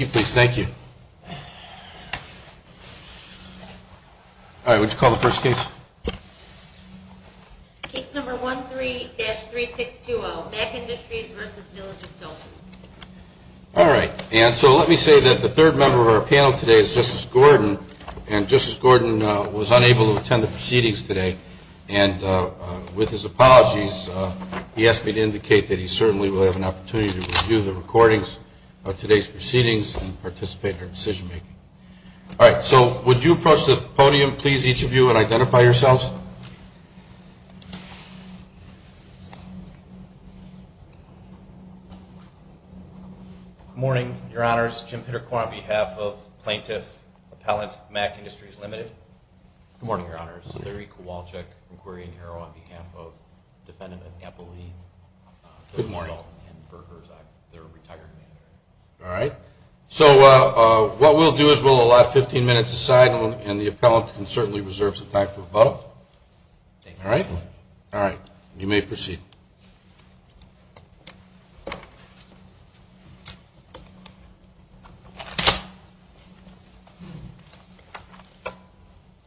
All right, so let me say that the third member of our panel today is Justice Gordon, and Justice Gordon was unable to attend the proceedings today, and with his apologies, he asked me to indicate that he certainly will have an opportunity to review the recordings of today's proceedings and participate in our decision making. All right, so would you approach the podium, please, each of you, and identify yourselves? Good morning, Your Honors. Jim Pitterquart on behalf of Plaintiff Appellant, Mack Industries, Ltd. Good morning, Your Honors. Larry Kowalczyk, Inquiry and Error on behalf of Defendant Good morning. All right, so what we'll do is we'll allow 15 minutes aside, and the appellant can certainly reserve some time for a vote. All right? All right, you may proceed. Good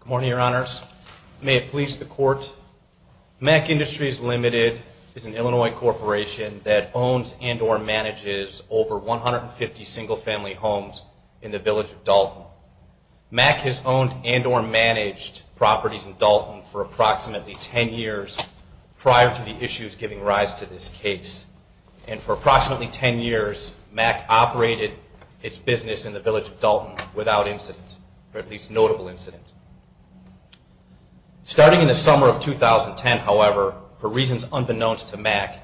morning, Your Honors. May it please the Court, Mack Industries, Ltd. is an Illinois corporation that owns and or manages over 150 single-family homes in the Village of Dalton. Mack has owned and or managed properties in Dalton for approximately 10 years prior to the issues giving rise to this case. And for approximately 10 years, Mack operated its business in the Village of Dalton without incident, or at least notable incident. Starting in the summer of 2010, however, for reasons unbeknownst to Mack,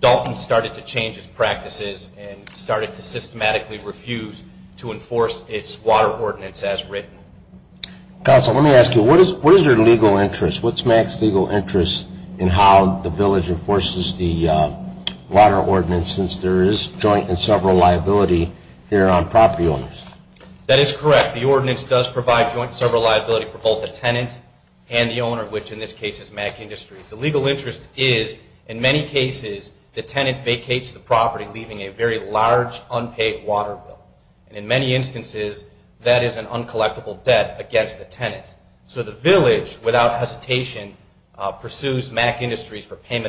Dalton started to change its practices and started to systematically refuse to enforce its water ordinance as written. Counsel, let me ask you, what is your legal interest? What's Mack's legal interest in how the Village enforces the water ordinance since there is joint and several liability here on property owners? That is correct. The ordinance does provide joint and several liability for both the tenant and the owner, which in this case is Mack Industries. The legal interest is, in many cases, the tenant vacates the property, leaving a very large unpaid water bill. And in many instances, that is an uncollectible debt against the payment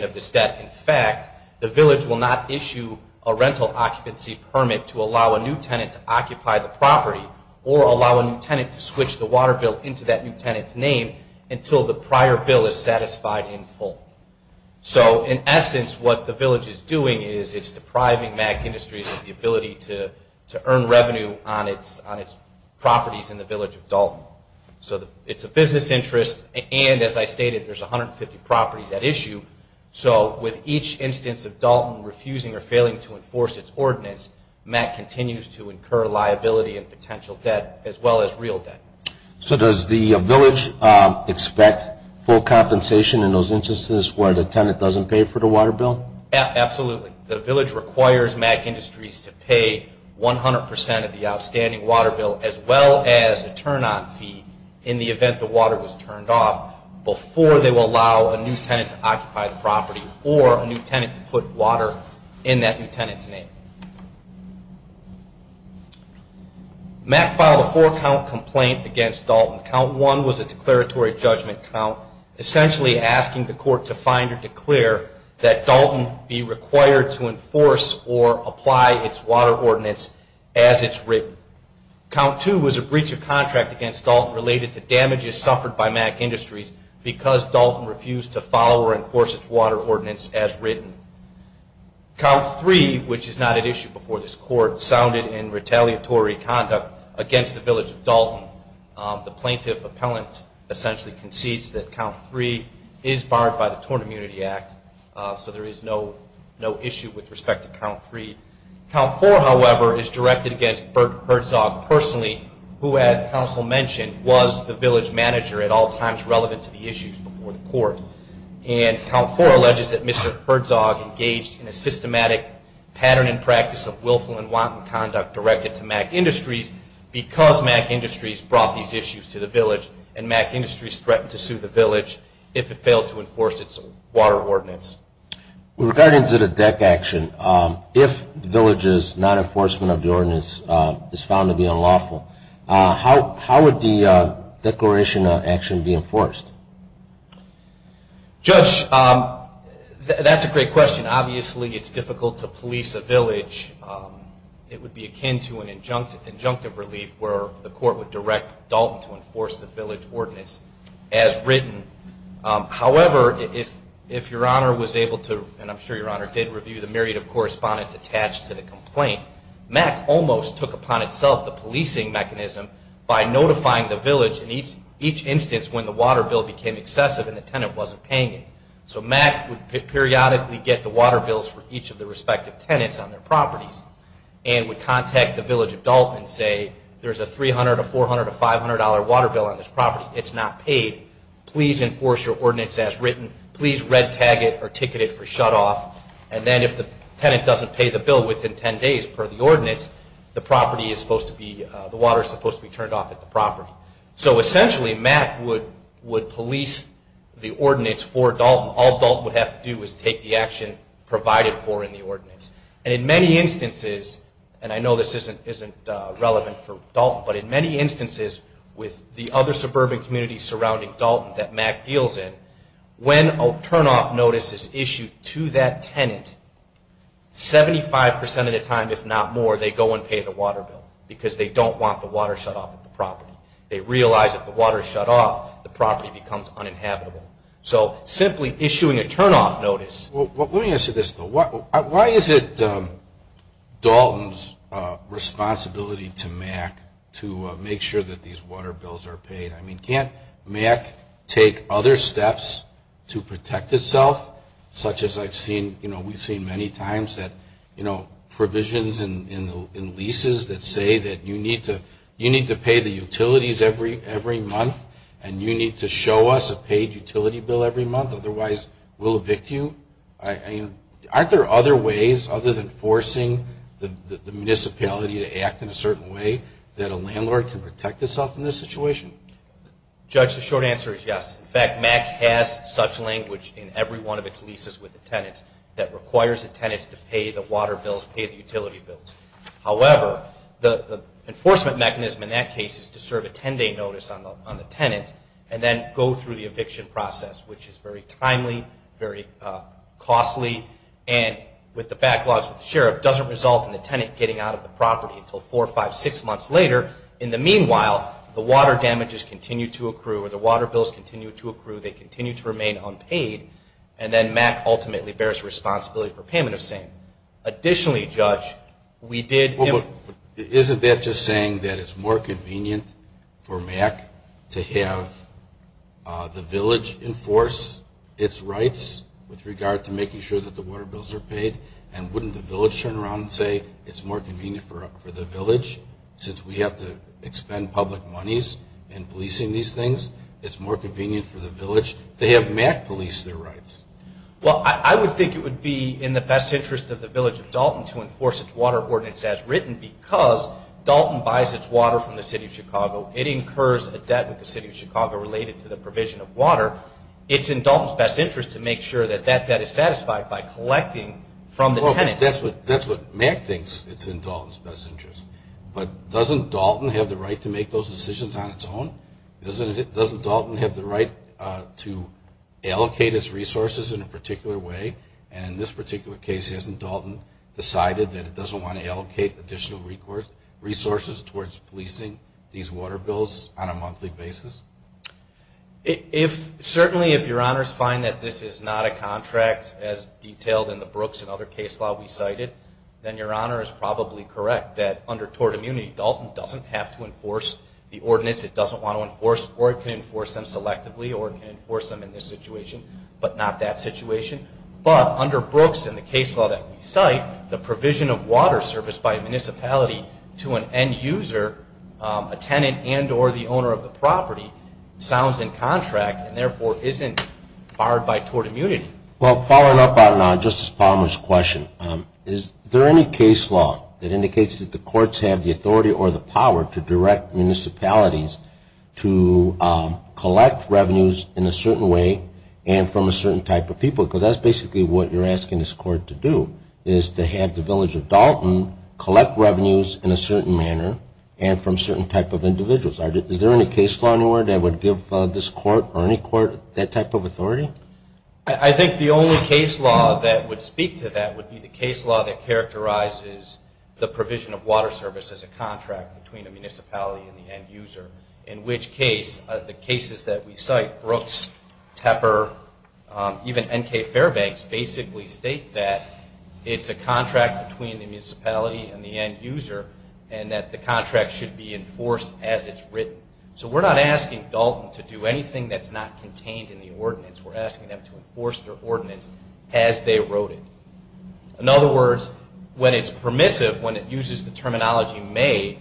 of this debt. In fact, the Village will not issue a rental occupancy permit to allow a new tenant to occupy the property or allow a new tenant to switch the water bill into that new tenant's name until the prior bill is satisfied in full. So in essence, what the Village is doing is it's depriving Mack Industries of the ability to earn revenue on its properties in the Village of Dalton. So it's a business interest, and as I stated, there's 150 properties at issue. So with each instance of Dalton refusing or failing to enforce its ordinance, Mack continues to incur liability and potential debt as well as real debt. So does the Village expect full compensation in those instances where the tenant doesn't pay for the water bill? Absolutely. The Village requires Mack Industries to pay 100 percent of the outstanding water bill as well as a turn-on fee in the event the water was turned off before they will allow a new tenant to occupy the property or a new tenant to put water in that new tenant's name. Mack filed a four-count complaint against Dalton. Count 1 was a declaratory judgment count, essentially asking the court to find or declare that Dalton be required to enforce or apply its water ordinance as it's written. Count 2 was a breach of contract against Dalton related to damages suffered by Mack Industries because Dalton refused to follow or enforce its water ordinance as written. Count 3, which is not at issue before this court, sounded in retaliatory conduct against the Village of Dalton. The plaintiff appellant essentially concedes that count 3 is barred by the Torn Immunity Act, so there is no issue with respect to count 3. Count 4, however, is directed against Bert Herzog personally, who as counsel mentioned, was the village manager at all times relevant to the issues before the court. And count 4 alleges that Mr. Herzog engaged in a systematic pattern and practice of willful and wanton conduct directed to Mack Industries because Mack Industries brought these issues to the village and Mack Industries threatened to sue the village if it failed to enforce its water ordinance. Regarding to the deck action, if the village's non-enforcement of the ordinance is found to be unlawful, how would the declaration of action be enforced? Judge, that's a great question. Obviously, it's difficult to police a village. It would be akin to an injunctive relief where the court would direct Dalton to enforce the village ordinance as written. However, if your honor was able to, and I'm sure your honor did, review the myriad of correspondence attached to the complaint, Mack almost took upon itself the policing mechanism by notifying the village in each instance when the water bill became excessive and the tenant wasn't paying it. So Mack would periodically get the water bills for each of the respective tenants on their properties and would contact the village of Dalton and say, there's a $300, a $400, a $500 water bill on this property. It's not paid. Please enforce your ordinance as written. Please red tag it or ticket it for shutoff. And then if the tenant doesn't pay the bill within 10 days per the ordinance, the water is supposed to be turned off at the property. So essentially, Mack would police the ordinance for Dalton. All Dalton would have to do is take the action provided for in the ordinance. And in many instances, and I know this isn't relevant for Dalton, but in many instances with the other suburban communities surrounding Dalton that Mack deals in, when a turnoff notice is issued to that tenant, 75% of the time, if not more, they go and pay the water bill because they don't want the water shut off at the property. They realize if the water is shut off, the property becomes uninhabitable. So simply issuing a turnoff notice... Well, let me ask you this though. Why is it Dalton's responsibility to Mack to make sure that these water bills are paid? I mean, can't Mack take other steps to protect itself, such as I've seen, you know, we've seen many times that, you know, provisions in leases that say that you need to pay the utilities every month and you need to show us a paid utility bill every month. Otherwise, we'll evict you. I mean, aren't there other ways other than shutting yourself in this situation? Judge, the short answer is yes. In fact, Mack has such language in every one of its leases with the tenant that requires the tenants to pay the water bills, pay the utility bills. However, the enforcement mechanism in that case is to serve a 10-day notice on the tenant and then go through the eviction process, which is very timely, very costly, and with the backlogs with the sheriff, doesn't result in the tenant getting out of the property until four, five, six months later. In the meanwhile, the water damages continue to accrue or the water bills continue to accrue. They continue to remain unpaid. And then Mack ultimately bears responsibility for payment of same. Additionally, Judge, we did... Well, isn't that just saying that it's more convenient for Mack to have the village enforce its rights with regard to making sure that the water bills are paid? And wouldn't the the village, since we have to expend public monies in policing these things, it's more convenient for the village to have Mack police their rights? Well, I would think it would be in the best interest of the village of Dalton to enforce its water ordinance as written because Dalton buys its water from the City of Chicago. It incurs a debt with the City of Chicago related to the provision of water. It's in Dalton's best interest to make sure that that debt is satisfied by collecting from the tenants. That's what Mack thinks it's in Dalton's best interest. But doesn't Dalton have the right to make those decisions on its own? Doesn't Dalton have the right to allocate its resources in a particular way? And in this particular case, hasn't Dalton decided that it doesn't want to allocate additional resources towards policing these water bills on a monthly basis? Certainly if Your Honors find that this is not a contract as detailed in the Brooks and the case law that we cited, then Your Honor is probably correct that under tort immunity, Dalton doesn't have to enforce the ordinance. It doesn't want to enforce or it can enforce them selectively or it can enforce them in this situation, but not that situation. But under Brooks and the case law that we cite, the provision of water service by a municipality to an end user, a tenant and or the owner of the property, sounds in contract and therefore isn't barred by tort immunity. Well, following up on Justice Palmer's question, is there any case law that indicates that the courts have the authority or the power to direct municipalities to collect revenues in a certain way and from a certain type of people? Because that's basically what you're asking this court to do, is to have the village of Dalton collect revenues in a certain manner and from certain type of individuals. Is there any case law anywhere that would give this court or any court that type of authority? I think the only case law that would speak to that would be the case law that characterizes the provision of water service as a contract between a municipality and the end user. In which case, the cases that we cite, Brooks, Tepper, even N.K. Fairbanks basically state that it's a contract between the municipality and the end user and that the contract should be enforced as it's written. So we're not asking Dalton to do anything that's not contained in the ordinance. We're asking them to enforce their ordinance as they wrote it. In other words, when it's permissive, when it uses the terminology may,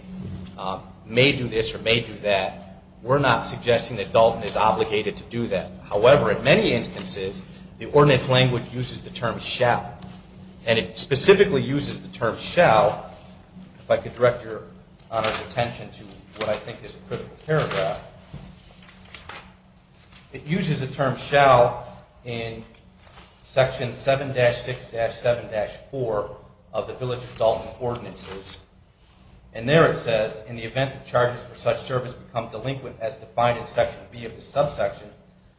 may do this or may do that, we're not suggesting that Dalton is obligated to do that. However, in many instances, the ordinance language uses the term shall. And it specifically uses the term shall, if I could direct your Honor's attention to what I think is a critical paragraph. It uses a term shall in section 7-6-7-4 of the Village of Dalton ordinances. And there it says, in the event that charges for such service become delinquent as defined in section B of the subsection,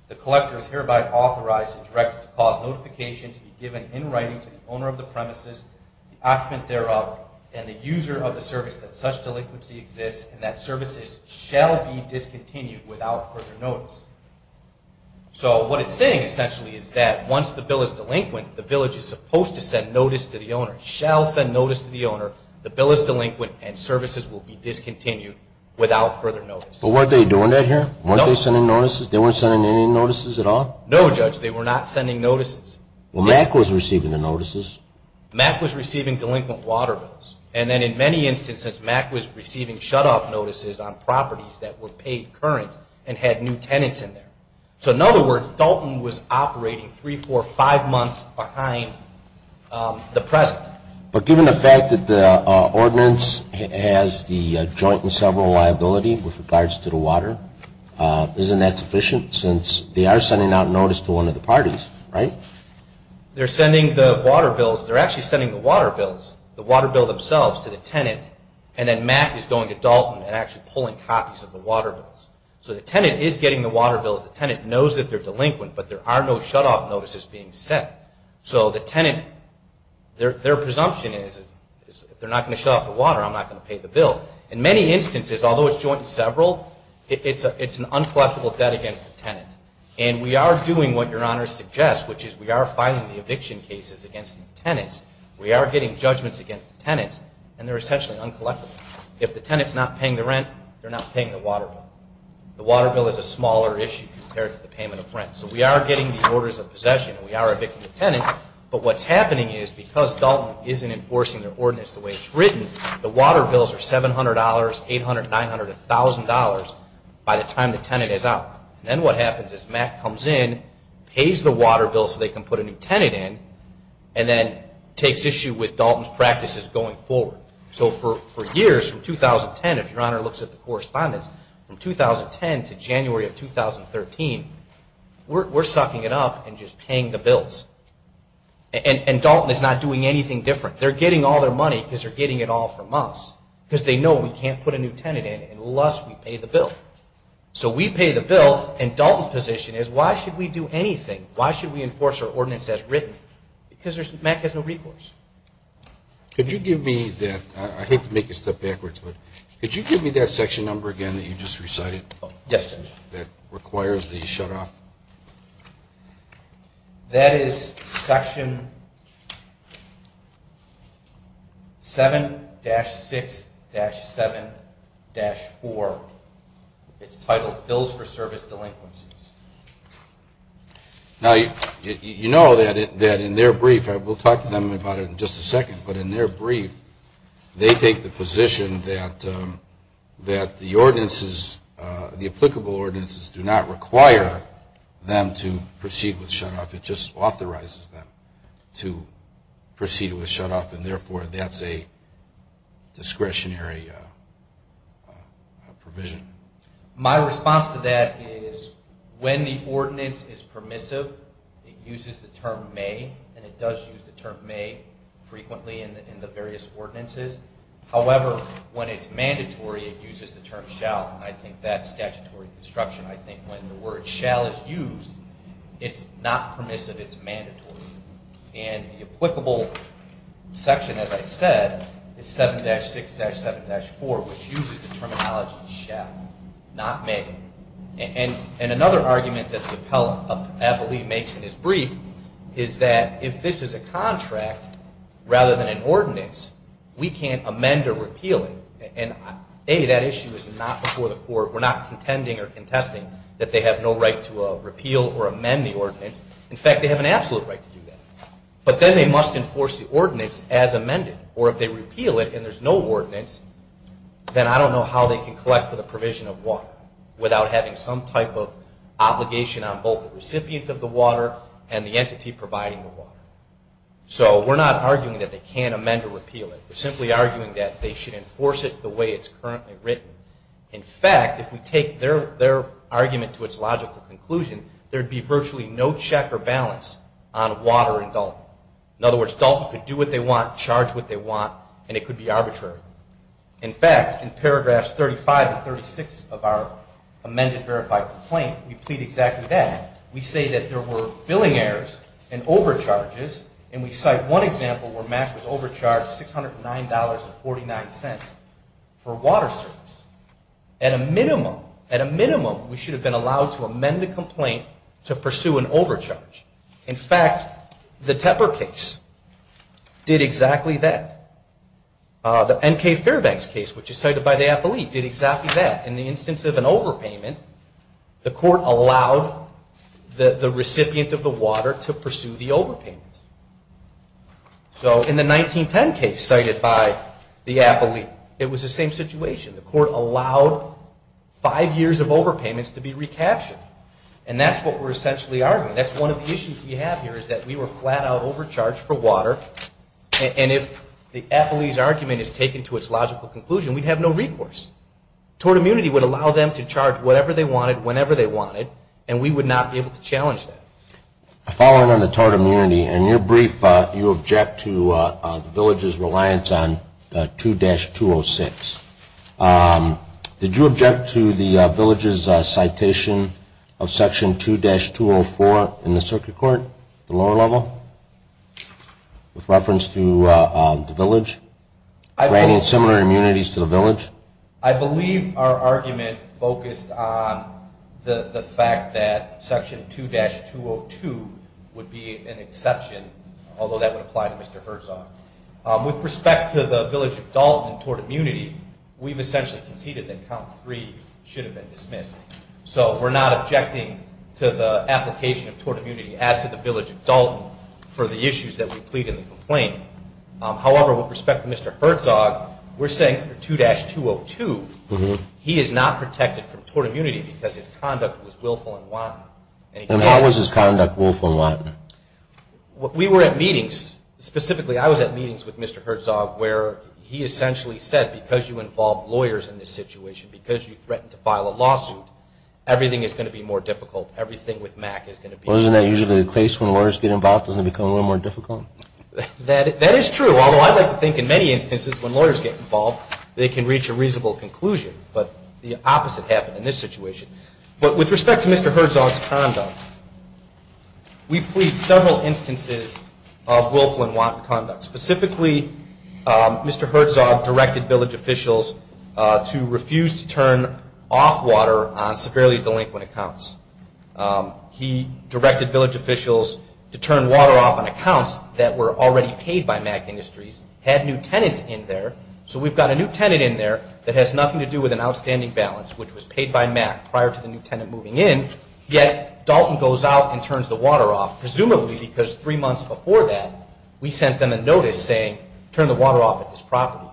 the collector is hereby authorized and directed to cause notification to be given in writing to the owner of the premises, the occupant thereof, and the user of the service that such delinquency exists and that services shall be discontinued without further notice. So what it's saying essentially is that once the bill is delinquent, the village is supposed to send notice to the owner, shall send notice to the owner, the bill is delinquent and services will be discontinued without further notice. But weren't they doing that here? Weren't they sending notices? They weren't sending any notices at all? No, Judge. They were not sending notices. Well, MAC was receiving the notices. MAC was receiving delinquent water bills. And then in many instances, MAC was receiving shut-off notices on properties that were paid current and had new tenants in there. So in other words, Dalton was operating three, four, five months behind the present. But given the fact that the ordinance has the joint and several liability with regards to the water, isn't that sufficient since they are sending out notice to one of the parties, right? They're sending the water bills, they're actually sending the water bills, the water bills themselves to the tenant, and then MAC is going to Dalton and actually pulling copies of the water bills. So the tenant is getting the water bills, the tenant knows that they're delinquent, but there are no shut-off notices being sent. So the tenant, their presumption is, if they're not going to shut off the water, I'm not going to pay the bill. In many instances, although it's joint and several, it's an uncollectible debt against the tenant. And we are doing what Your Honor suggests, which is we are filing the eviction cases against the tenants, we are getting judgments against the tenants, and they're essentially uncollectible. If the tenant's not paying the rent, they're not paying the water bill. The water bill is a smaller issue compared to the payment of rent. So we are getting the orders of possession, we are evicting the tenants, but what's happening is because Dalton isn't enforcing their ordinance the way it's written, the water bills are $700, $800, $900, $1,000 by the time the tenant is out. Then what happens is Mack comes in, pays the water bill so they can put a new tenant in, and then takes issue with Dalton's practices going forward. So for years, from 2010, if Your Honor looks at the correspondence, from 2010 to January of 2013, we're sucking it up and just paying the bills. And Dalton is not doing anything different. They're getting all their money because they're getting it all from us, because they know So we pay the bill, and Dalton's position is, why should we do anything? Why should we enforce our ordinance as written? Because Mack has no recourse. Could you give me that, I hate to make you step backwards, but could you give me that section number again that you just recited that requires the shutoff? That is section 7-6-7-4. It's titled Bills for Service Delinquencies. Now you know that in their brief, we'll talk to them about it in just a second, but in The ordinances, the applicable ordinances, do not require them to proceed with shutoff. It just authorizes them to proceed with shutoff, and therefore that's a discretionary provision. My response to that is, when the ordinance is permissive, it uses the term may, and it does use the term may frequently in the various ordinances. However, when it's mandatory, it uses the term shall, and I think that's statutory construction. I think when the word shall is used, it's not permissive, it's mandatory. And the applicable section, as I said, is 7-6-7-4, which uses the terminology shall, not may. And another argument that the appellee makes in his brief is that if this is a contract rather than an ordinance, we can't amend or repeal it. And A, that issue is not before the court. We're not contending or contesting that they have no right to repeal or amend the ordinance. In fact, they have an absolute right to do that. But then they must enforce the ordinance as amended. Or if they repeal it and there's no ordinance, then I don't know how they can collect for the provision of water without having some type of obligation on both the recipient of the water and the entity providing the water. So we're not arguing that they can't amend or repeal it. We're simply arguing that they should enforce it the way it's currently written. In fact, if we take their argument to its logical conclusion, there'd be virtually no check or balance on water and DALT. In other words, DALT could do what they want, charge what they want, and it could be arbitrary. In fact, in paragraphs 35 and 36 of our amended verified complaint, we plead exactly that. We say that there were billing errors and overcharges. And we cite one example where Mack was overcharged $609.49 for water service. At a minimum, we should have been allowed to amend the complaint to pursue an overcharge. In fact, the Tepper case did exactly that. The N.K. Fairbanks case, which is cited by the appellee, did exactly that. In the instance of an overpayment, the court allowed the recipient of the water to pursue the overpayment. So in the 1910 case cited by the appellee, it was the same situation. The court allowed five years of overpayments to be recaptured. And that's what we're essentially arguing. That's one of the issues we have here is that we were flat out overcharged for water. And if the appellee's argument is taken to its logical conclusion, we'd have no recourse. Tort immunity would allow them to charge whatever they wanted, whenever they wanted. And we would not be able to challenge that. Following on the tort immunity, in your brief, you object to the village's reliance on 2-206. Did you object to the village's citation of section 2-204 in the circuit court, the lower level? With reference to the village? Granting similar immunities to the village? I believe our argument focused on the fact that section 2-202 would be an exception. Although that would apply to Mr. Herzog. With respect to the village of Dalton and tort immunity, we've essentially conceded that count three should have been dismissed. So we're not objecting to the application of tort immunity as to the village of Dalton for the issues that we plead in the complaint. However, with respect to Mr. Herzog, we're saying for 2-202, he is not protected from tort immunity because his conduct was willful and wanton. And how was his conduct willful and wanton? We were at meetings, specifically I was at meetings with Mr. Herzog, where he essentially said, because you involve lawyers in this situation, because you threatened to file a lawsuit, everything is going to be more difficult. Everything with MAC is going to be... Well, isn't that usually the case when lawyers get involved? Doesn't it become a little more difficult? That is true, although I'd like to think in many instances when lawyers get involved, they can reach a reasonable conclusion. But the opposite happened in this situation. But with respect to Mr. Herzog's conduct, we plead several instances of willful and wanton conduct. Specifically, Mr. Herzog directed village officials to refuse to turn off water on severely delinquent accounts. He directed village officials to turn water off on accounts that were already paid by MAC Industries, had new tenants in there, so we've got a new tenant in there that has nothing to do with an outstanding balance, which was paid by MAC prior to the new tenant moving in, yet Dalton goes out and turns the water off, presumably because three months before that, we sent them a notice saying, turn the water off at this property,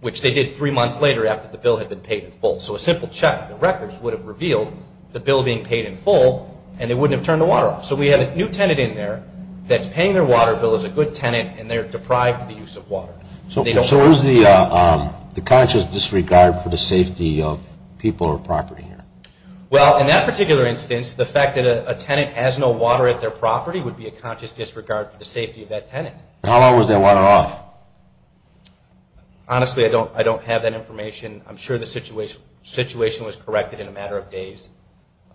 which they did three months later after the bill had been paid in full. So a simple check of the records would have revealed the bill being paid in full, and they wouldn't have turned the water off. So we have a new tenant in there that's paying their water bill as a good tenant, and they're deprived of the use of water. So is the conscious disregard for the safety of people or property here? Well, in that particular instance, the fact that a tenant has no water at their property would be a conscious disregard for the safety of that tenant. How long was that water off? Honestly, I don't have that information. I'm sure the situation was corrected in a matter of days.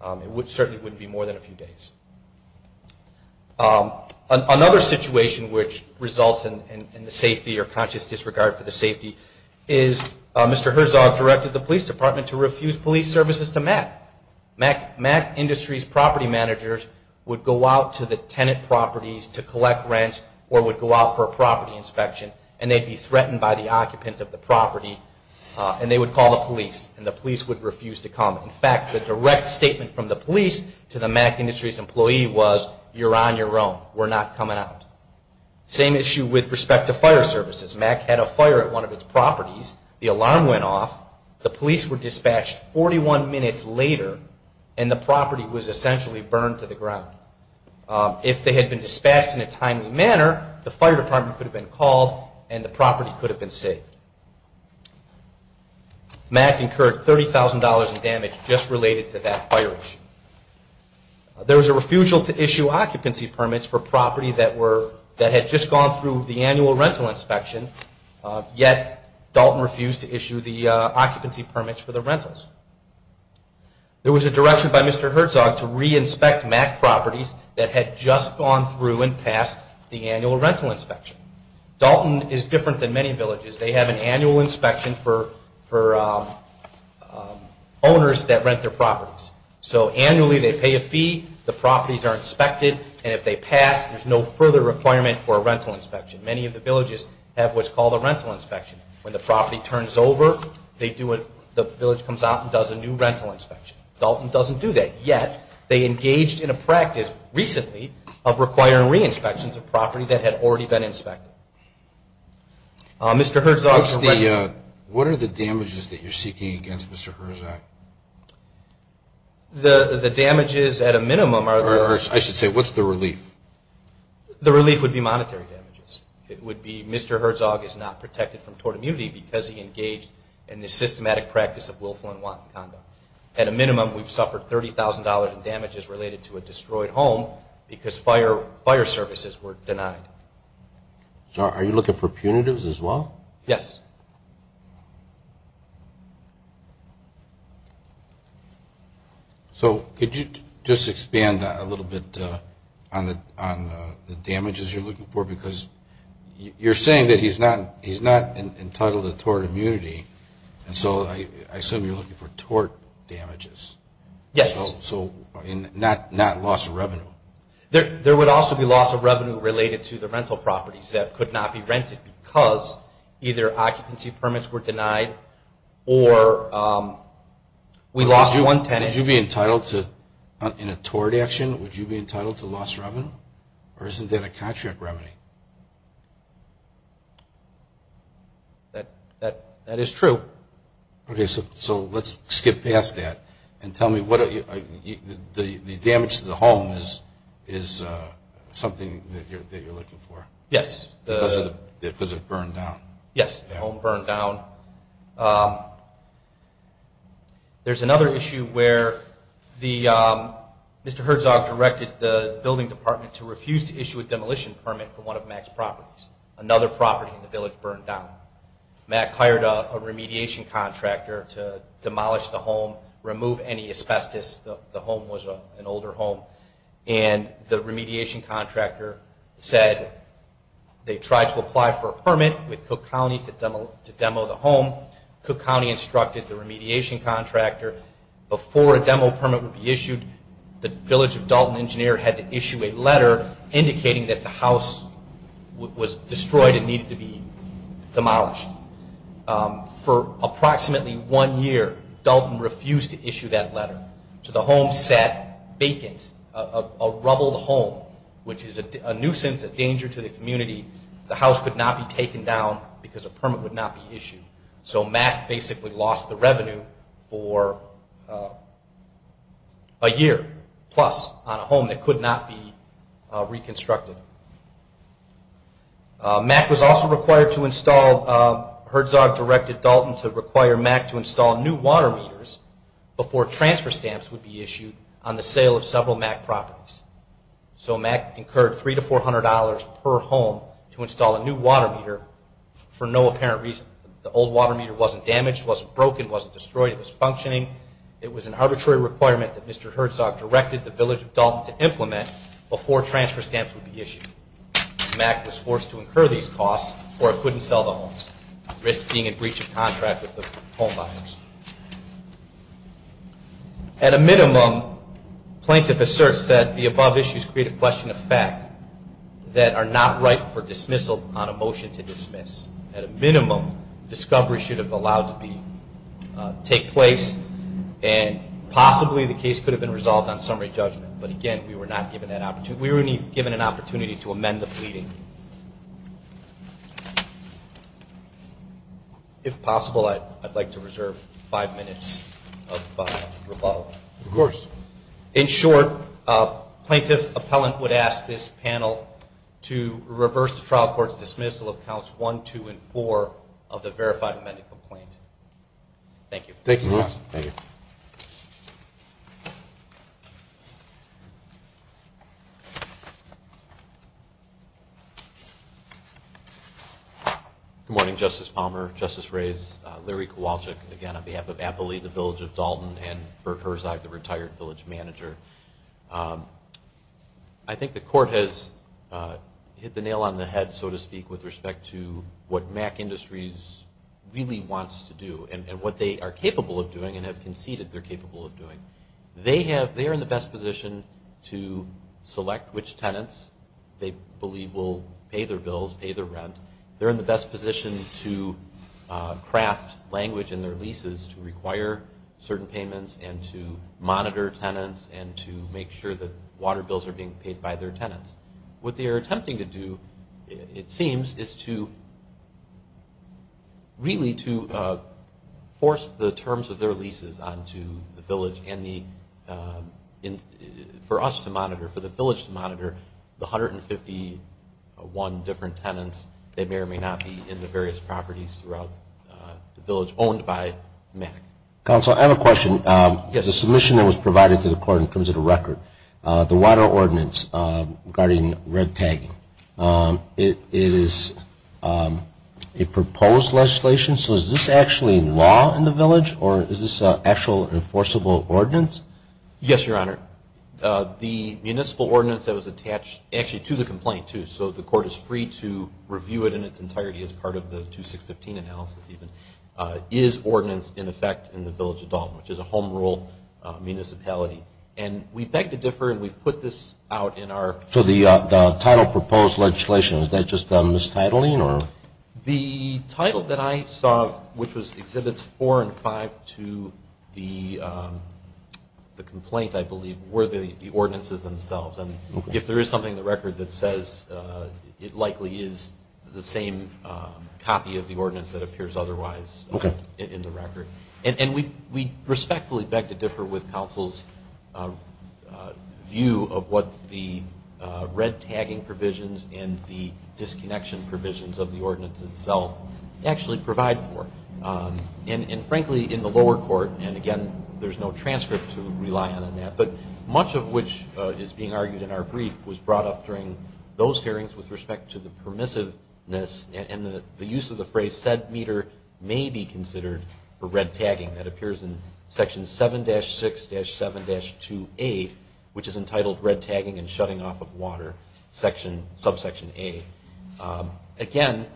It certainly wouldn't be more than a few days. Another situation which results in the safety or conscious disregard for the safety is Mr. Herzog directed the police department to refuse police services to MAC. MAC Industries property managers would go out to the tenant properties to collect rent or would go out for a property inspection, and they'd be threatened by the occupant of the property and they would call the police, and the police would refuse to come. In fact, the direct statement from the police to the MAC Industries employee was, you're on your own. We're not coming out. Same issue with respect to fire services. MAC had a fire at one of its properties. The alarm went off. The police were dispatched 41 minutes later, and the property was essentially burned to the ground. If they had been dispatched in a timely manner, the fire department could have been called and the property could have been saved. MAC incurred $30,000 in damage just related to that fire issue. There was a refusal to issue occupancy permits for property that had just gone through the annual rental inspection, yet Dalton refused to issue the occupancy permits for the rentals. There was a direction by Mr. Herzog to re-inspect MAC properties that had just gone through and passed the annual rental inspection. Dalton is different than many villages. They have an annual inspection for owners that rent their properties. So annually, they pay a fee. The properties are inspected, and if they pass, there's no further requirement for a rental inspection. Many of the villages have what's called a rental inspection. When the property turns over, the village comes out and does a new rental inspection. Dalton doesn't do that, yet they engaged in a practice recently of requiring re-inspections of property that had already been inspected. Mr. Herzog's rent... What are the damages that you're seeking against Mr. Herzog? The damages at a minimum are... I should say, what's the relief? The relief would be monetary damages. It would be Mr. Herzog is not protected from tort immunity because he engaged in the systematic practice of willful and wanton conduct. At a minimum, we've suffered $30,000 in damages related to a destroyed home because fire services were denied. So are you looking for punitives as well? Yes. So could you just expand a little bit on the damages you're looking for? Because you're saying that he's not entitled to tort immunity, and so I assume you're looking for tort damages. Yes. So not loss of revenue? There would also be loss of revenue related to the rental properties that could not be rented because either occupancy permits were denied or we lost one tenant. Would you be entitled to, in a tort action, would you be entitled to loss of revenue? Or isn't that a contract remedy? That is true. Okay, so let's skip past that. And tell me, the damage to the home is something that you're looking for? Yes. Because it burned down? Yes, the home burned down. There's another issue where Mr. Herzog directed the building department to refuse to issue a demolition permit for one of Mac's properties. Another property in the village burned down. Mac hired a remediation contractor to demolish the home, remove any asbestos, the home was an older home. And the remediation contractor said they tried to apply for a permit with Cook County to demo the home. Cook County instructed the remediation contractor before a demo permit would be issued, the village of Dalton Engineer had to issue a letter indicating that the house was destroyed and needed to be demolished. For approximately one year, Dalton refused to issue that letter. So the home sat vacant, a rubbled home, which is a nuisance, a danger to the community. The house could not be taken down because a permit would not be issued. So Mac basically lost the revenue for a year plus on a home that could not be reconstructed. Mac was also required to install, Herzog directed Dalton to require Mac to install new water meters before transfer stamps would be issued on the sale of several Mac properties. So Mac incurred three to four hundred dollars per home to install a new water meter for no apparent reason. The old water meter wasn't damaged, wasn't broken, wasn't destroyed, it was functioning, it was an arbitrary requirement that Mr. Herzog directed the village of Dalton to implement before transfer stamps would be issued. Mac was forced to incur these costs or it couldn't sell the homes, at risk of being in breach of contract with the home buyers. At a minimum, plaintiff asserts that the above issues create a question of fact that are not ripe for dismissal on a motion to dismiss. At a minimum, discovery should have allowed to take place and possibly the case could have been resolved on summary judgment. But again, we were not given that opportunity. We were only given an opportunity to amend the pleading. If possible, I'd like to reserve five minutes of rebuttal. Of course. In short, plaintiff appellant would ask this panel to reverse the trial court's dismissal of counts one, two, and four of the verified amended complaint. Thank you. Thank you, Your Honor. Thank you. Thank you. Good morning, Justice Palmer, Justice Reyes, Larry Kowalczyk. Again, on behalf of Appley, the village of Dalton, and Bert Herzog, the retired village manager. I think the court has hit the nail on the head, so to speak, with respect to what Mac Industries really wants to do and what they are capable of doing and have conceded they're capable of doing. They are in the best position to select which tenants they believe will pay their bills, pay their rent. They're in the best position to craft language in their leases to require certain payments and to monitor tenants and to make sure that water bills are being paid by their tenants. What they are attempting to do, it seems, is really to force the terms of their leases onto the village and for us to monitor, for the village to monitor the 151 different tenants that may or may not be in the various properties throughout the village owned by Mac. Counsel, I have a question. The submission that was provided to the court and comes with a record, the water ordinance regarding red tagging, it is a proposed legislation, so is this actually law in the village? Or is this an actual enforceable ordinance? Yes, Your Honor. The municipal ordinance that was attached, actually to the complaint too, so the court is free to review it in its entirety as part of the 2615 analysis even, is ordinance in effect in the village of Dalton, which is a home rule municipality. And we beg to differ and we've put this out in our... So the title proposed legislation, is that just mistitling? The title that I saw, which was Exhibits 4 and 5 to the complaint, I believe, were the ordinances themselves. And if there is something in the record that says it likely is the same copy of the ordinance that appears otherwise in the record. And we respectfully beg to differ with counsel's view of what the red tagging provisions and the disconnection provisions of the ordinance itself actually provide for. And frankly, in the lower court, and again, there's no transcript to rely on in that, but much of which is being argued in our brief was brought up during those hearings with respect to the permissiveness and the use of the phrase, said meter may be considered for red tagging that appears in Section 7-6-7-2A, which is entitled Red Tagging and Shutting Off of Water, subsection A. Again,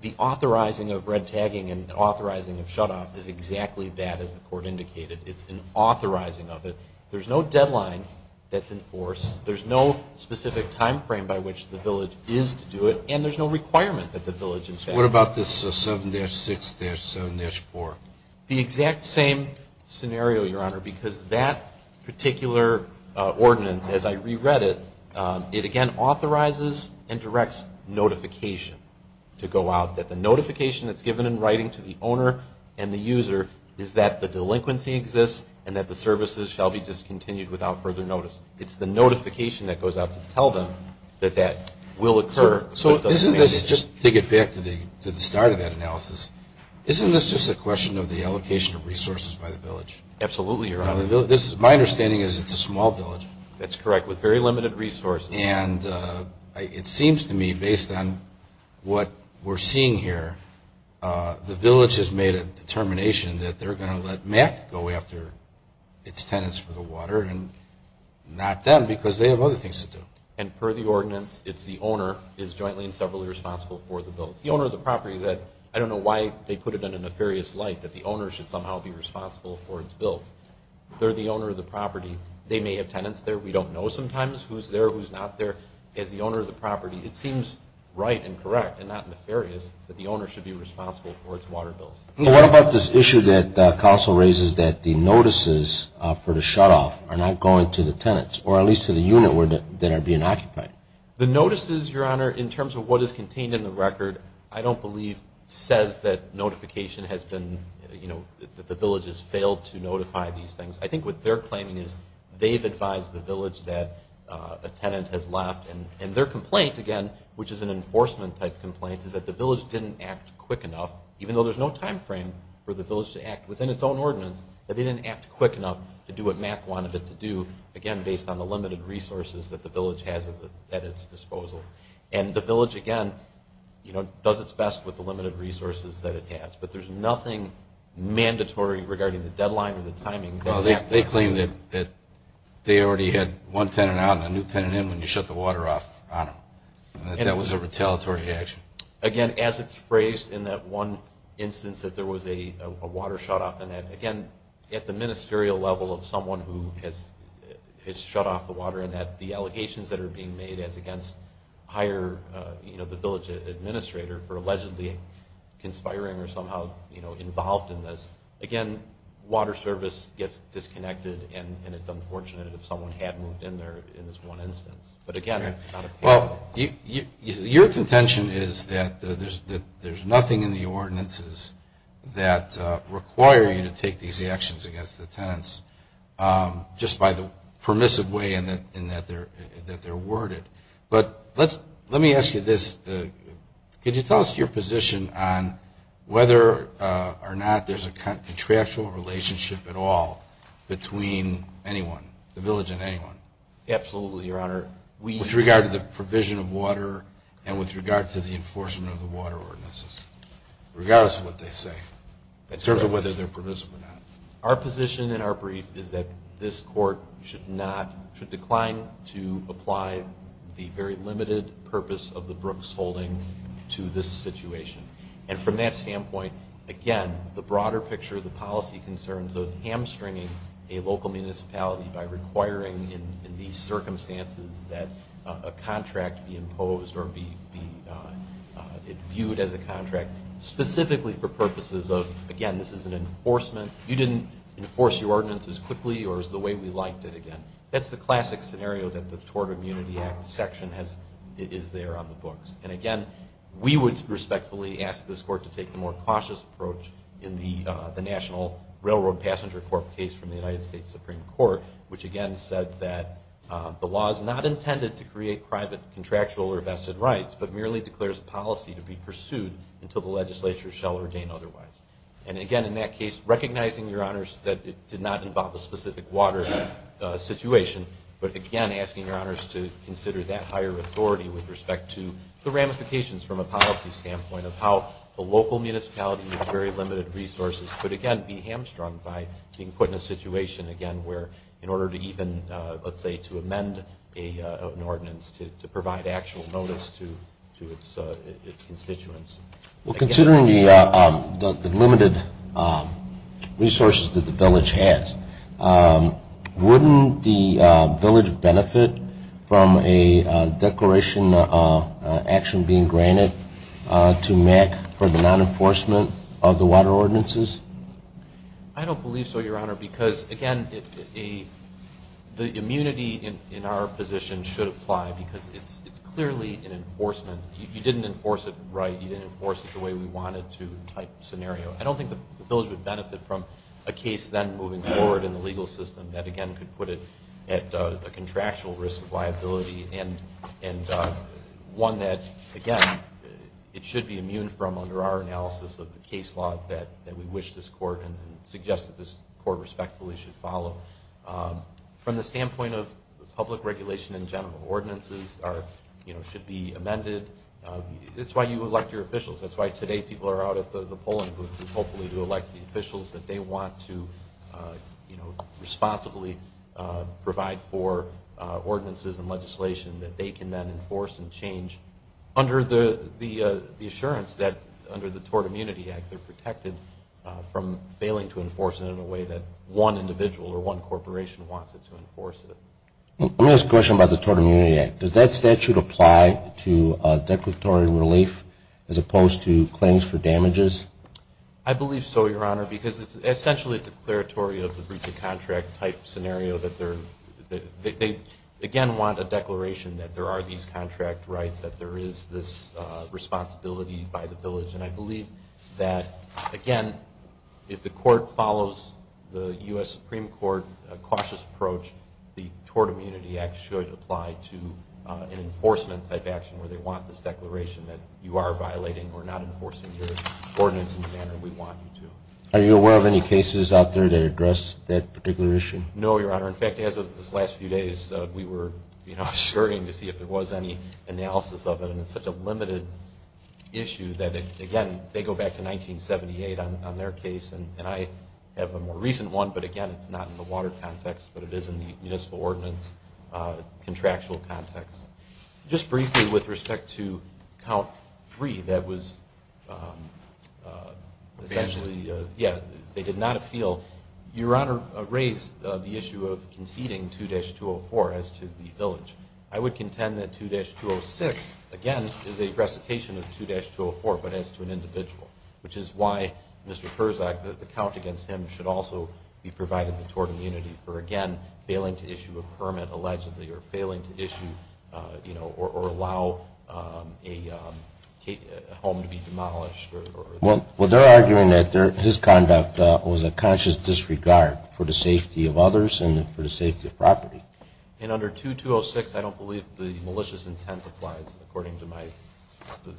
the authorizing of red tagging and authorizing of shut off is exactly that as the court indicated. It's an authorizing of it. There's no deadline that's enforced. There's no specific time frame by which the village is to do it. And there's no requirement that the village is to do it. What about this 7-6-7-4? The exact same scenario, Your Honor, because that particular ordinance, as I reread it, it again authorizes and directs notification to go out that the notification that's given in writing to the owner and the user is that the delinquency exists and that the services shall be discontinued without further notice. It's the notification that goes out to tell them that that will occur. Isn't this, just to get back isn't this just a question of the allocation of resources by the village? Absolutely, Your Honor. My understanding is it's a small village. That's correct, with very limited resources. And it seems to me, based on what we're seeing here, the village has made a determination that they're going to let MAC go after its tenants for the water and not them because they have other things to do. And per the ordinance, it's the owner is jointly and separately responsible for the bill. It's the owner of the property that, I don't know why they put it in a nefarious light that the owner should somehow be responsible for its bills. They're the owner of the property. They may have tenants there. We don't know sometimes who's there, who's not there. As the owner of the property, it seems right and correct and not nefarious that the owner should be responsible for its water bills. What about this issue that Council raises that the notices for the shutoff are not going to the tenants or at least to the unit that are being occupied? The notices, Your Honor, in terms of what is contained in the record I don't believe says that notification has been, that the village has failed to notify these things. I think what they're claiming is they've advised the village that a tenant has left and their complaint, again, which is an enforcement type complaint is that the village didn't act quick enough even though there's no time frame for the village to act within its own ordinance that they didn't act quick enough to do what MAC wanted it to do based on the limited resources that the village has at its disposal. The village, again, does its best with the limited resources that it has, but there's nothing mandatory regarding the deadline or the timing that MAC has. They already had one tenant out and a new tenant in when you shut the water off. That was a retaliatory action. Again, as it's phrased in that one instance that there was a water shutoff and, again, at the ministerial level of someone who has shut off the water and the allegations that are being made as against the village administrator for allegedly conspiring or somehow involved in this, again, water service gets disconnected and it's unfortunate if someone had moved in in this one instance. Your contention is that there's nothing in the ordinances that require you to take these actions against the tenants just by the permissive way in that they're worded. Let me ask you this. Could you tell us your position on whether or not there's a contractual relationship at all between anyone, the village and anyone? Absolutely, Your Honor. With regard to the provision of water and with regard to the enforcement of the water in the ordinances, regardless of what they say in terms of whether they're permissive or not. Our position in our brief is that this court should decline to apply the very limited purpose of the Brooks holding to this situation. And from that standpoint, again, the broader picture of the policy concerns of hamstringing a local municipality by requiring in these circumstances that a contract be imposed or be viewed as a contract specifically for purposes of, again, this is an enforcement. You didn't enforce your ordinances quickly or as the way we liked it again. That's the classic scenario that the Tort Immunity Act section is there on the books. And again, we would respectfully ask this court to take a more cautious approach in the National Railroad Passenger Court case from the United States Supreme Court, which again said that the law is not intended to create private contractual or vested rights but merely declares a policy to be pursued until the legislature shall ordain otherwise. And again, in that case recognizing, Your Honors, that it did not involve a specific water situation, but again asking Your Honors to consider that higher authority with respect to the ramifications from a policy standpoint of how a local municipality with very limited resources could again be hamstrung by being put in a situation, again, where in order to even, let's say to amend an ordinance to provide actual notice to its constituents. Well, considering the limited resources that the village has, wouldn't the village benefit from a declaration action being granted to MAC for the non-enforcement of the water ordinances? I don't believe so, Your Honor, because again the immunity in our position should apply because it's clearly an enforcement, you didn't enforce it right you didn't enforce it the way we wanted to type scenario. I don't think the village would benefit from a case then moving forward in the legal system that again could put it at a contractual risk of liability and one that, again, it should be immune from under our analysis of the case law that we wish this court and suggest that this court respectfully should follow. From the standpoint of public regulation in general, ordinances are, you know, should be amended it's why you elect your officials, that's why today people are out at the polling booth to hopefully elect the officials that they want to responsibly provide for ordinances and legislation that they can then enforce and change under the assurance that under the Tort Immunity Act they're protected from failing to enforce it in a way that one individual or one corporation wants it to enforce it. Let me ask a question about the Tort Immunity Act does that statute apply to declaratory relief as opposed to claims for damages? I believe so, Your Honor, because it's essentially a declaratory of the breach of contract type scenario that they again want a declaration that there are these contract rights, that there is this responsibility by the village and I believe that, again if the court follows the U.S. Supreme Court cautious approach, the Tort Immunity Act should apply to an enforcement type action where they want this declaration that you are violating or not enforcing your ordinance in the manner we want you to. Are you aware of any cases out there that address that particular issue? No, Your Honor, in fact as of this last few days, we were you know, scurrying to see if there was any analysis of it and it's such a limited issue that it, again they go back to 1978 on their case and I have a more recent one, but again it's not in the water context but it is in the municipal ordinance contractual context. Just briefly with respect to count 3 that was essentially, yeah, they did not appeal, Your Honor raised the issue of conceding 2-204 as to the village I would contend that 2-206 again is a recitation of 2-204 but as to an individual which is why Mr. Herzog the count against him should also be provided the tort immunity for again failing to issue a permit allegedly or failing to issue or allow a home to be demolished Well, they're arguing that his conduct was a conscious disregard for the safety of others and for the safety of property And under 2-206 I don't believe the malicious intent applies according to my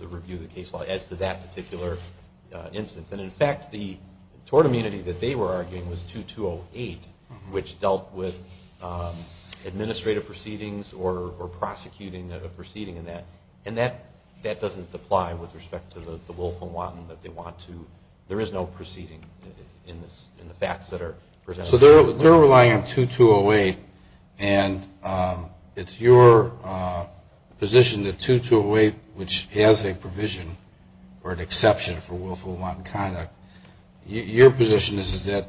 review of the case law as to that particular instance and in fact the tort immunity that they were arguing was 2-208 which dealt with administrative proceedings or prosecuting a proceeding and that doesn't apply with respect to the willful wanton that they want to there is no proceeding in the facts that are presented So they're relying on 2-208 and it's your position that 2-208 which has a provision or an exception for willful wanton conduct your position is that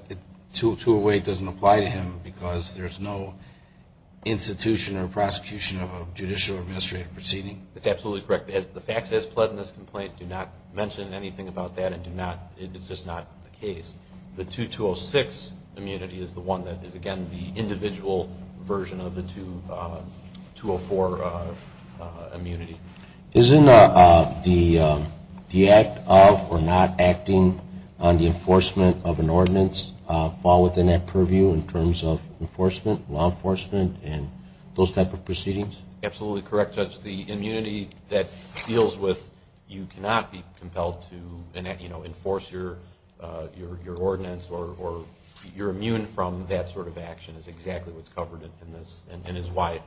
2-208 doesn't apply to him because there's no institution or prosecution of a judicial or administrative proceeding? That's absolutely correct. The facts as pled in this complaint do not mention anything about that it's just not the case The 2-206 immunity is the one that is again the individual version of the 204 immunity. Isn't the act of or not acting on the enforcement of an ordinance fall within that purview in terms of enforcement, law enforcement and those type of proceedings? Absolutely correct Judge. The immunity that deals with you cannot be compelled to enforce your ordinance or you're immune from that sort of action is exactly what's covered in this and is why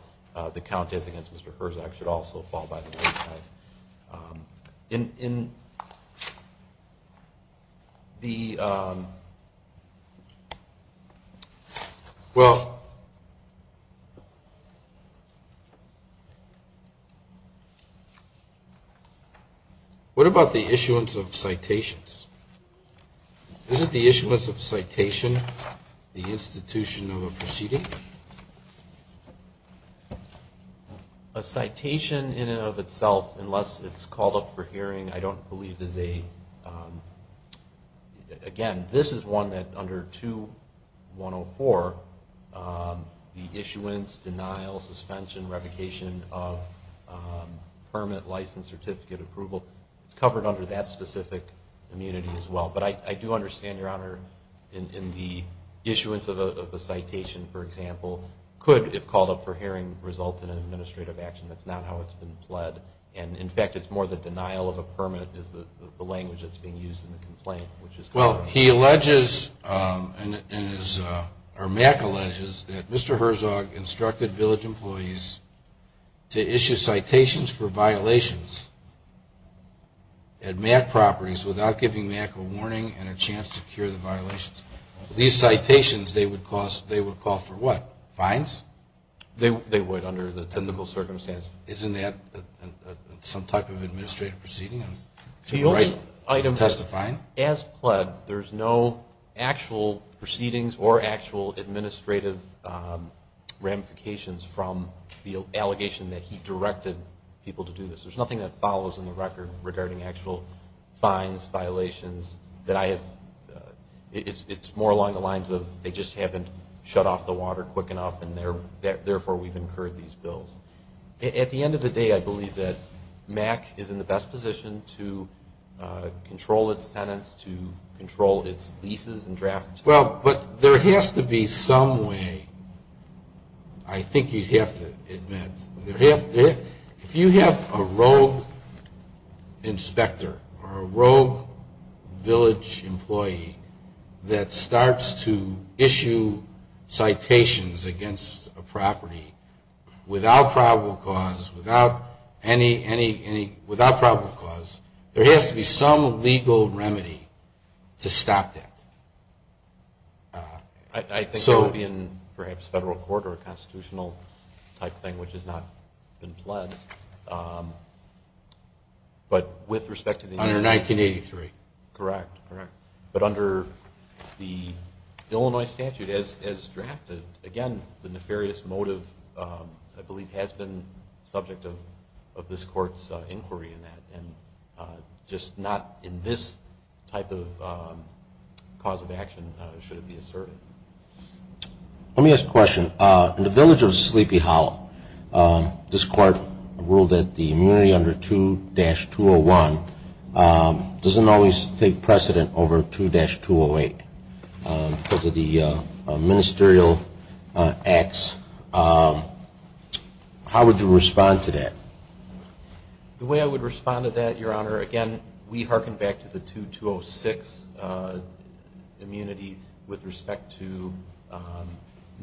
the count as against Mr. Herzog should also fall by the wayside In the um well What about the issuance of citations? Isn't the issuance of a citation the institution of a proceeding? A citation in and of itself unless it's called up for hearing I don't believe is a again this is one that under 2-104 the issuance denial suspension revocation of permit license certificate approval it's covered under that specific immunity as well but I do understand your honor in the issuance of a citation for example could if called up for hearing result in an administrative action that's not how it's been pled and in fact it's more the denial of a permit is the language that's being used in the complaint Well he alleges or Mac alleges that Mr. Herzog instructed village employees to issue citations for at Mac properties without giving Mac a warning and a chance to cure the violations. These citations they would call for what? Fines? They would under the technical circumstance Isn't that some type of administrative proceeding? To testify? As pled there's no actual proceedings or actual administrative ramifications from the allegation that he directed people to do this. There's nothing that follows in the record regarding actual fines, violations that I have it's more along the lines of they just haven't shut off the water quick enough and therefore we've incurred these bills. At the end of the day I believe that Mac is in the best position to control it's tenants to control it's leases and drafts Well but there has to be some way I think you'd have to admit If you have a rogue inspector or a rogue village employee that starts to issue citations against a property without probable cause without any without probable cause there has to be some legal remedy to stop that I think it would be in perhaps federal court or not been pled but with respect to 1983 correct but under the Illinois statute as drafted again the nefarious motive I believe has been subject of this courts inquiry in that just not in this type of cause of action should it be asserted Let me ask a question In the village of Sleepy Hollow this court ruled that the immunity under 2-201 doesn't always take precedent over 2-208 because of the ministerial acts How would you respond to that? The way I would respond to that your honor again we harken back to the 2-206 immunity with respect to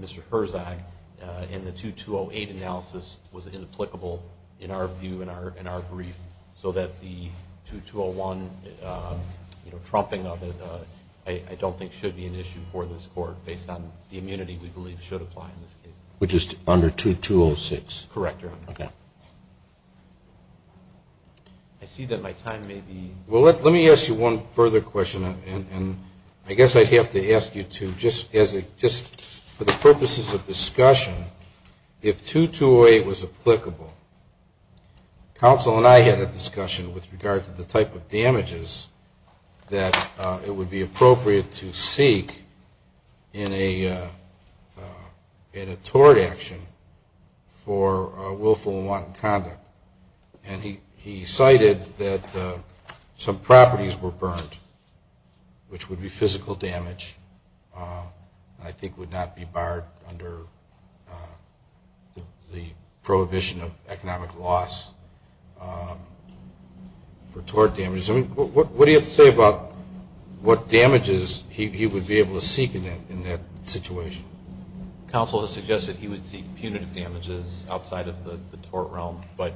Mr. Herzog and the 2-208 analysis was inapplicable in our view in our brief so that the 2-201 trumping of it I don't think should be an issue for this court based on the immunity we believe should apply in this case Which is under 2-206 Correct your honor I see that my time may be Well let me ask you one further question and I guess I'd have to ask you to just for the purposes of discussion if 2-208 was applicable counsel and I had a discussion with regard to the type of damages that it would be appropriate to seek in a tort action for willful and wanton conduct and he cited that some properties were burned which would be physical damage and I think would not be barred under the prohibition of economic loss for tort damages what do you have to say about what damages he would be able to seek in that situation Counsel has suggested he would seek punitive damages outside of the tort realm but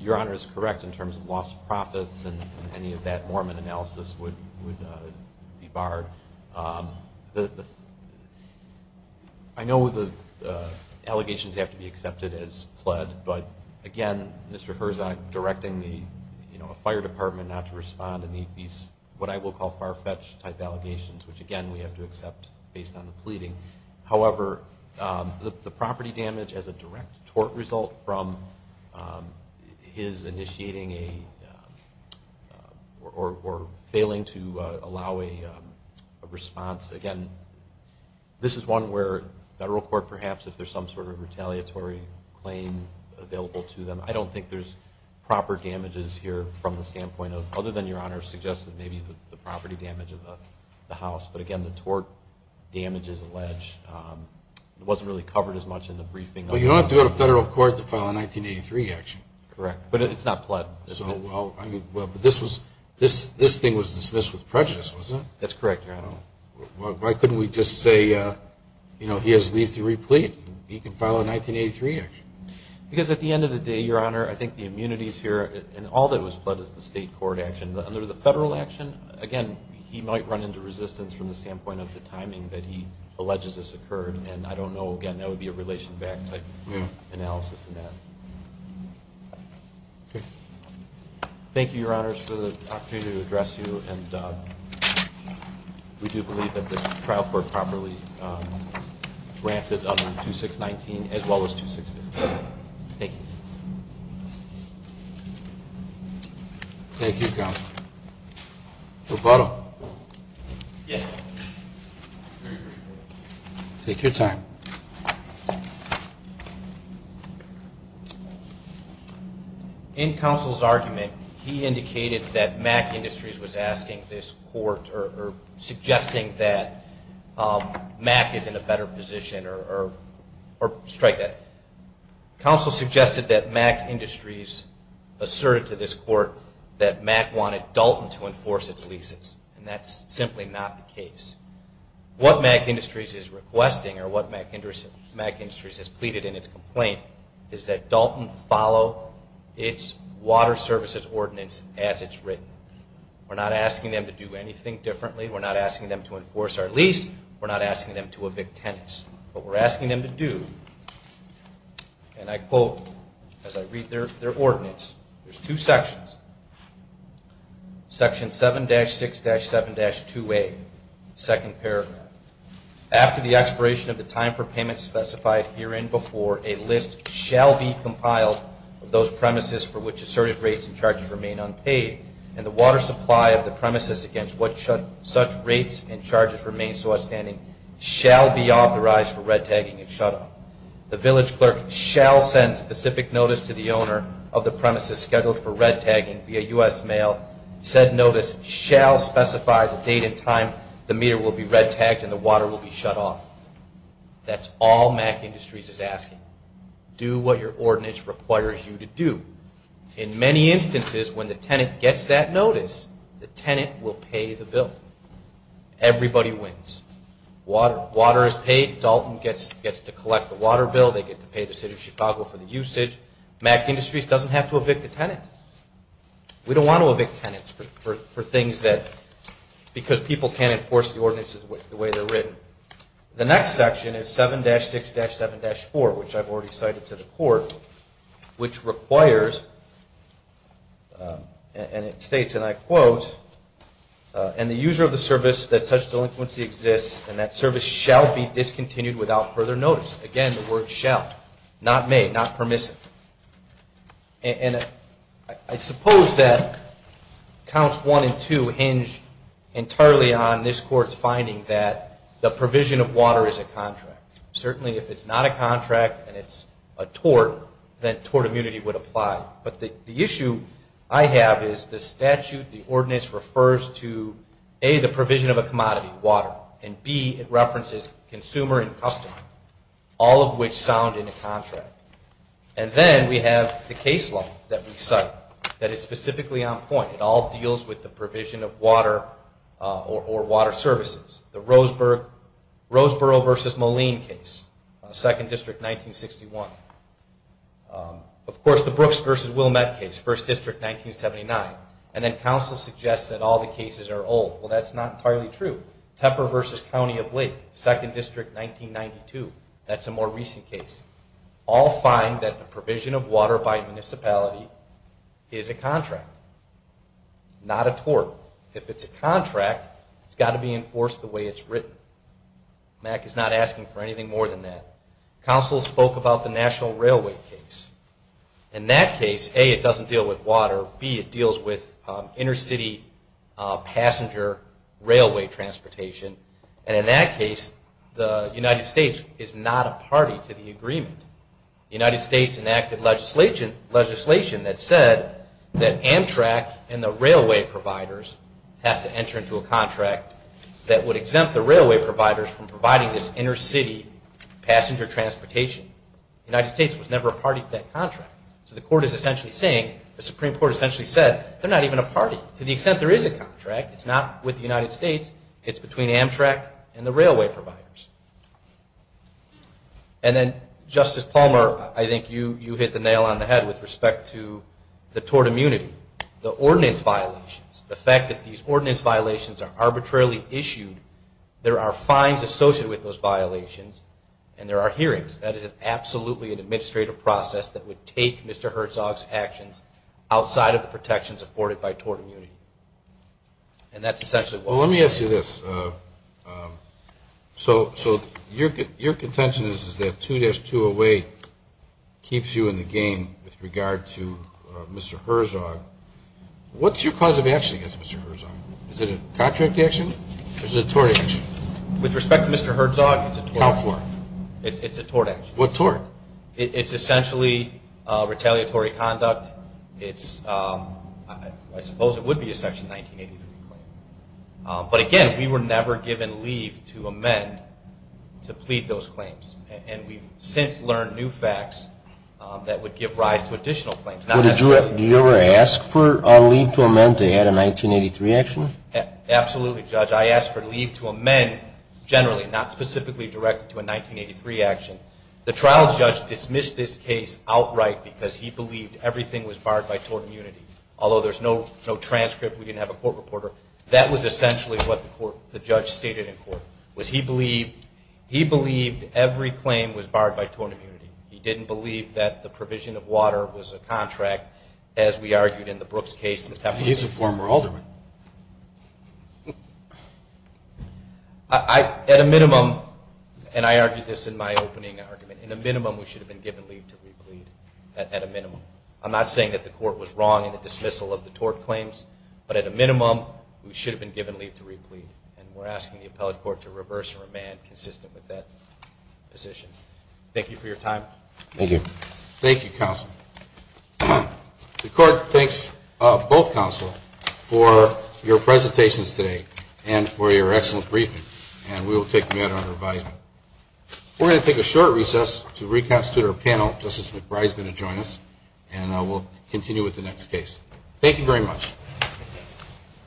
your honor is correct in terms of lost profits and any of that Mormon analysis would be barred I know the allegations have to be accepted as pled but again Mr. Herzog directing the fire department not to respond in these what I will call far-fetched type allegations which again we have to accept based on the pleading however the property damage as a direct tort result from his initiating a or failing to allow a response again this is one where federal court perhaps if there is some sort of retaliatory claim available to them I don't think there is proper damages here from the standpoint of other than your honor suggested maybe the property damage of the house but again the tort damages alleged wasn't really covered as much in the briefing but you don't have to go to federal court to file a 1983 action correct but it's not pled so well I mean well but this was this thing was dismissed with prejudice wasn't it that's correct your honor why couldn't we just say you know he has leave to replete he can file a 1983 action because at the end of the day your honor I think the immunities here and all that was pled is the state court action under the federal action again he might run into resistance from the standpoint of the timing that he alleges this occurred and I don't know again that would be a relation back type analysis in that thank you your honors for the opportunity to address you and we do believe that the trial court properly granted under 2619 as well as 2650 thank you thank you counsel roboto yes take your time in counsel's argument he indicated that mac industries was asking this court or suggesting that mac is in a better position or strike that counsel suggested that mac industries asserted to this court that mac wanted dalton to enforce its leases and that's simply not the case what mac industries is requesting or what mac industries has pleaded in its complaint is that dalton follow its water services ordinance as it's written we're not asking them to do anything differently we're not asking them to enforce our lease we're not asking them to evict tenants what we're asking them to do and I quote as I read their ordinance there's two sections section 7-6-7-2a second paragraph after the expiration of the time for payment specified herein before a list shall be compiled of those premises for which asserted rates and charges remain unpaid and the water supply of the premises against such rates and charges remain so outstanding shall be authorized for red tagging and shut off the village clerk shall send specific notice to the owner of the premises scheduled for red tagging via U.S. mail said notice shall specify the date and time the meter will be red tagged and the water will be shut off that's all mac industries is asking do what your ordinance requires you to do in many instances when the tenant gets that notice the tenant will pay the bill everybody wins water is paid dalton gets to collect the water bill they get to pay the city of Chicago for the usage mac industries doesn't have to evict the tenant we don't want to evict tenants for things that because people can't enforce the ordinances the way they're written the next section is 7-6-7-4 which I've already cited to the court which requires and it states and I quote and the user of the service that such delinquency exists and that service shall be discontinued without further notice again the word shall not may not permissive and I suppose that counts 1 and 2 hinge entirely on this court's finding that the provision of water is a contract certainly if it's not a contract and it's a tort then tort immunity would apply but the issue I have is the statute the ordinance refers to a the provision of a commodity water and b it references consumer and customer all of which sound in a contract and then we have the case law that we cite that is specifically on point it all deals with the provision of water or water services the Roseboro vs. Moline case 2nd District 1961 of course the Brooks vs. Wilmette case 1st District 1979 and then counsel suggests that all the cases are old well that's not entirely true Tepper vs. County of Lake 2nd District 1992 that's a more recent case all find that the provision of water by municipality is a contract not a tort if it's a contract it's got to be enforced the way it's written Mack is not asking for anything more than that counsel spoke about the national railway case in that case a it doesn't deal with water b it deals with intercity passenger railway transportation and in that case the United States is not a party to the agreement the United States enacted legislation that said that Amtrak and the railway providers have to enter into a contract that would exempt the railway providers from providing this intercity passenger transportation the United States was never a party to that contract the Supreme Court essentially said they're not even a party to the extent there is a contract it's not with the United States it's between Amtrak and the railway providers and then Justice Palmer I think you hit the nail on the head with respect to the tort immunity the ordinance violations the fact that these ordinance violations are arbitrarily issued there are fines associated with those violations and there are hearings that is absolutely an administrative process that would take Mr. Herzog's actions outside of the protections afforded by tort immunity and that's essentially well let me ask you this so your contention is that 2-208 keeps you in the game with regard to Mr. Herzog what's your cause of action against Mr. Herzog is it a contract action or is it a tort action with respect to Mr. Herzog it's a tort action it's essentially retaliatory conduct it's I suppose it would be a section 1983 but again we were never given leave to amend to plead those claims and we've since learned new facts that would give rise to additional claims do you ever ask for leave to amend to add a 1983 action absolutely judge I ask for leave to amend generally not specifically directed to a 1983 action the trial judge dismissed this case outright because he believed everything was barred by tort immunity although there's no transcript we didn't have a court reporter that was essentially what the judge stated he believed every claim was barred by tort immunity he didn't believe that the provision of water was a contract as we argued in the Brooks case he's a former alderman at a minimum and I argued this in my opening argument in a minimum we should have been given leave to replead at a minimum I'm not saying that the court was wrong in the dismissal of the tort claims but at a minimum we should have been given leave to replead and we're asking the appellate court to reverse and remand consistent with that position thank you for your time thank you thank you counsel the court thanks both counsel for your presentations today and for your excellent briefing and we will take the matter under advisement we're going to take a short recess to reconstitute our panel Justice McBride is going to join us and we'll continue with the next case thank you very much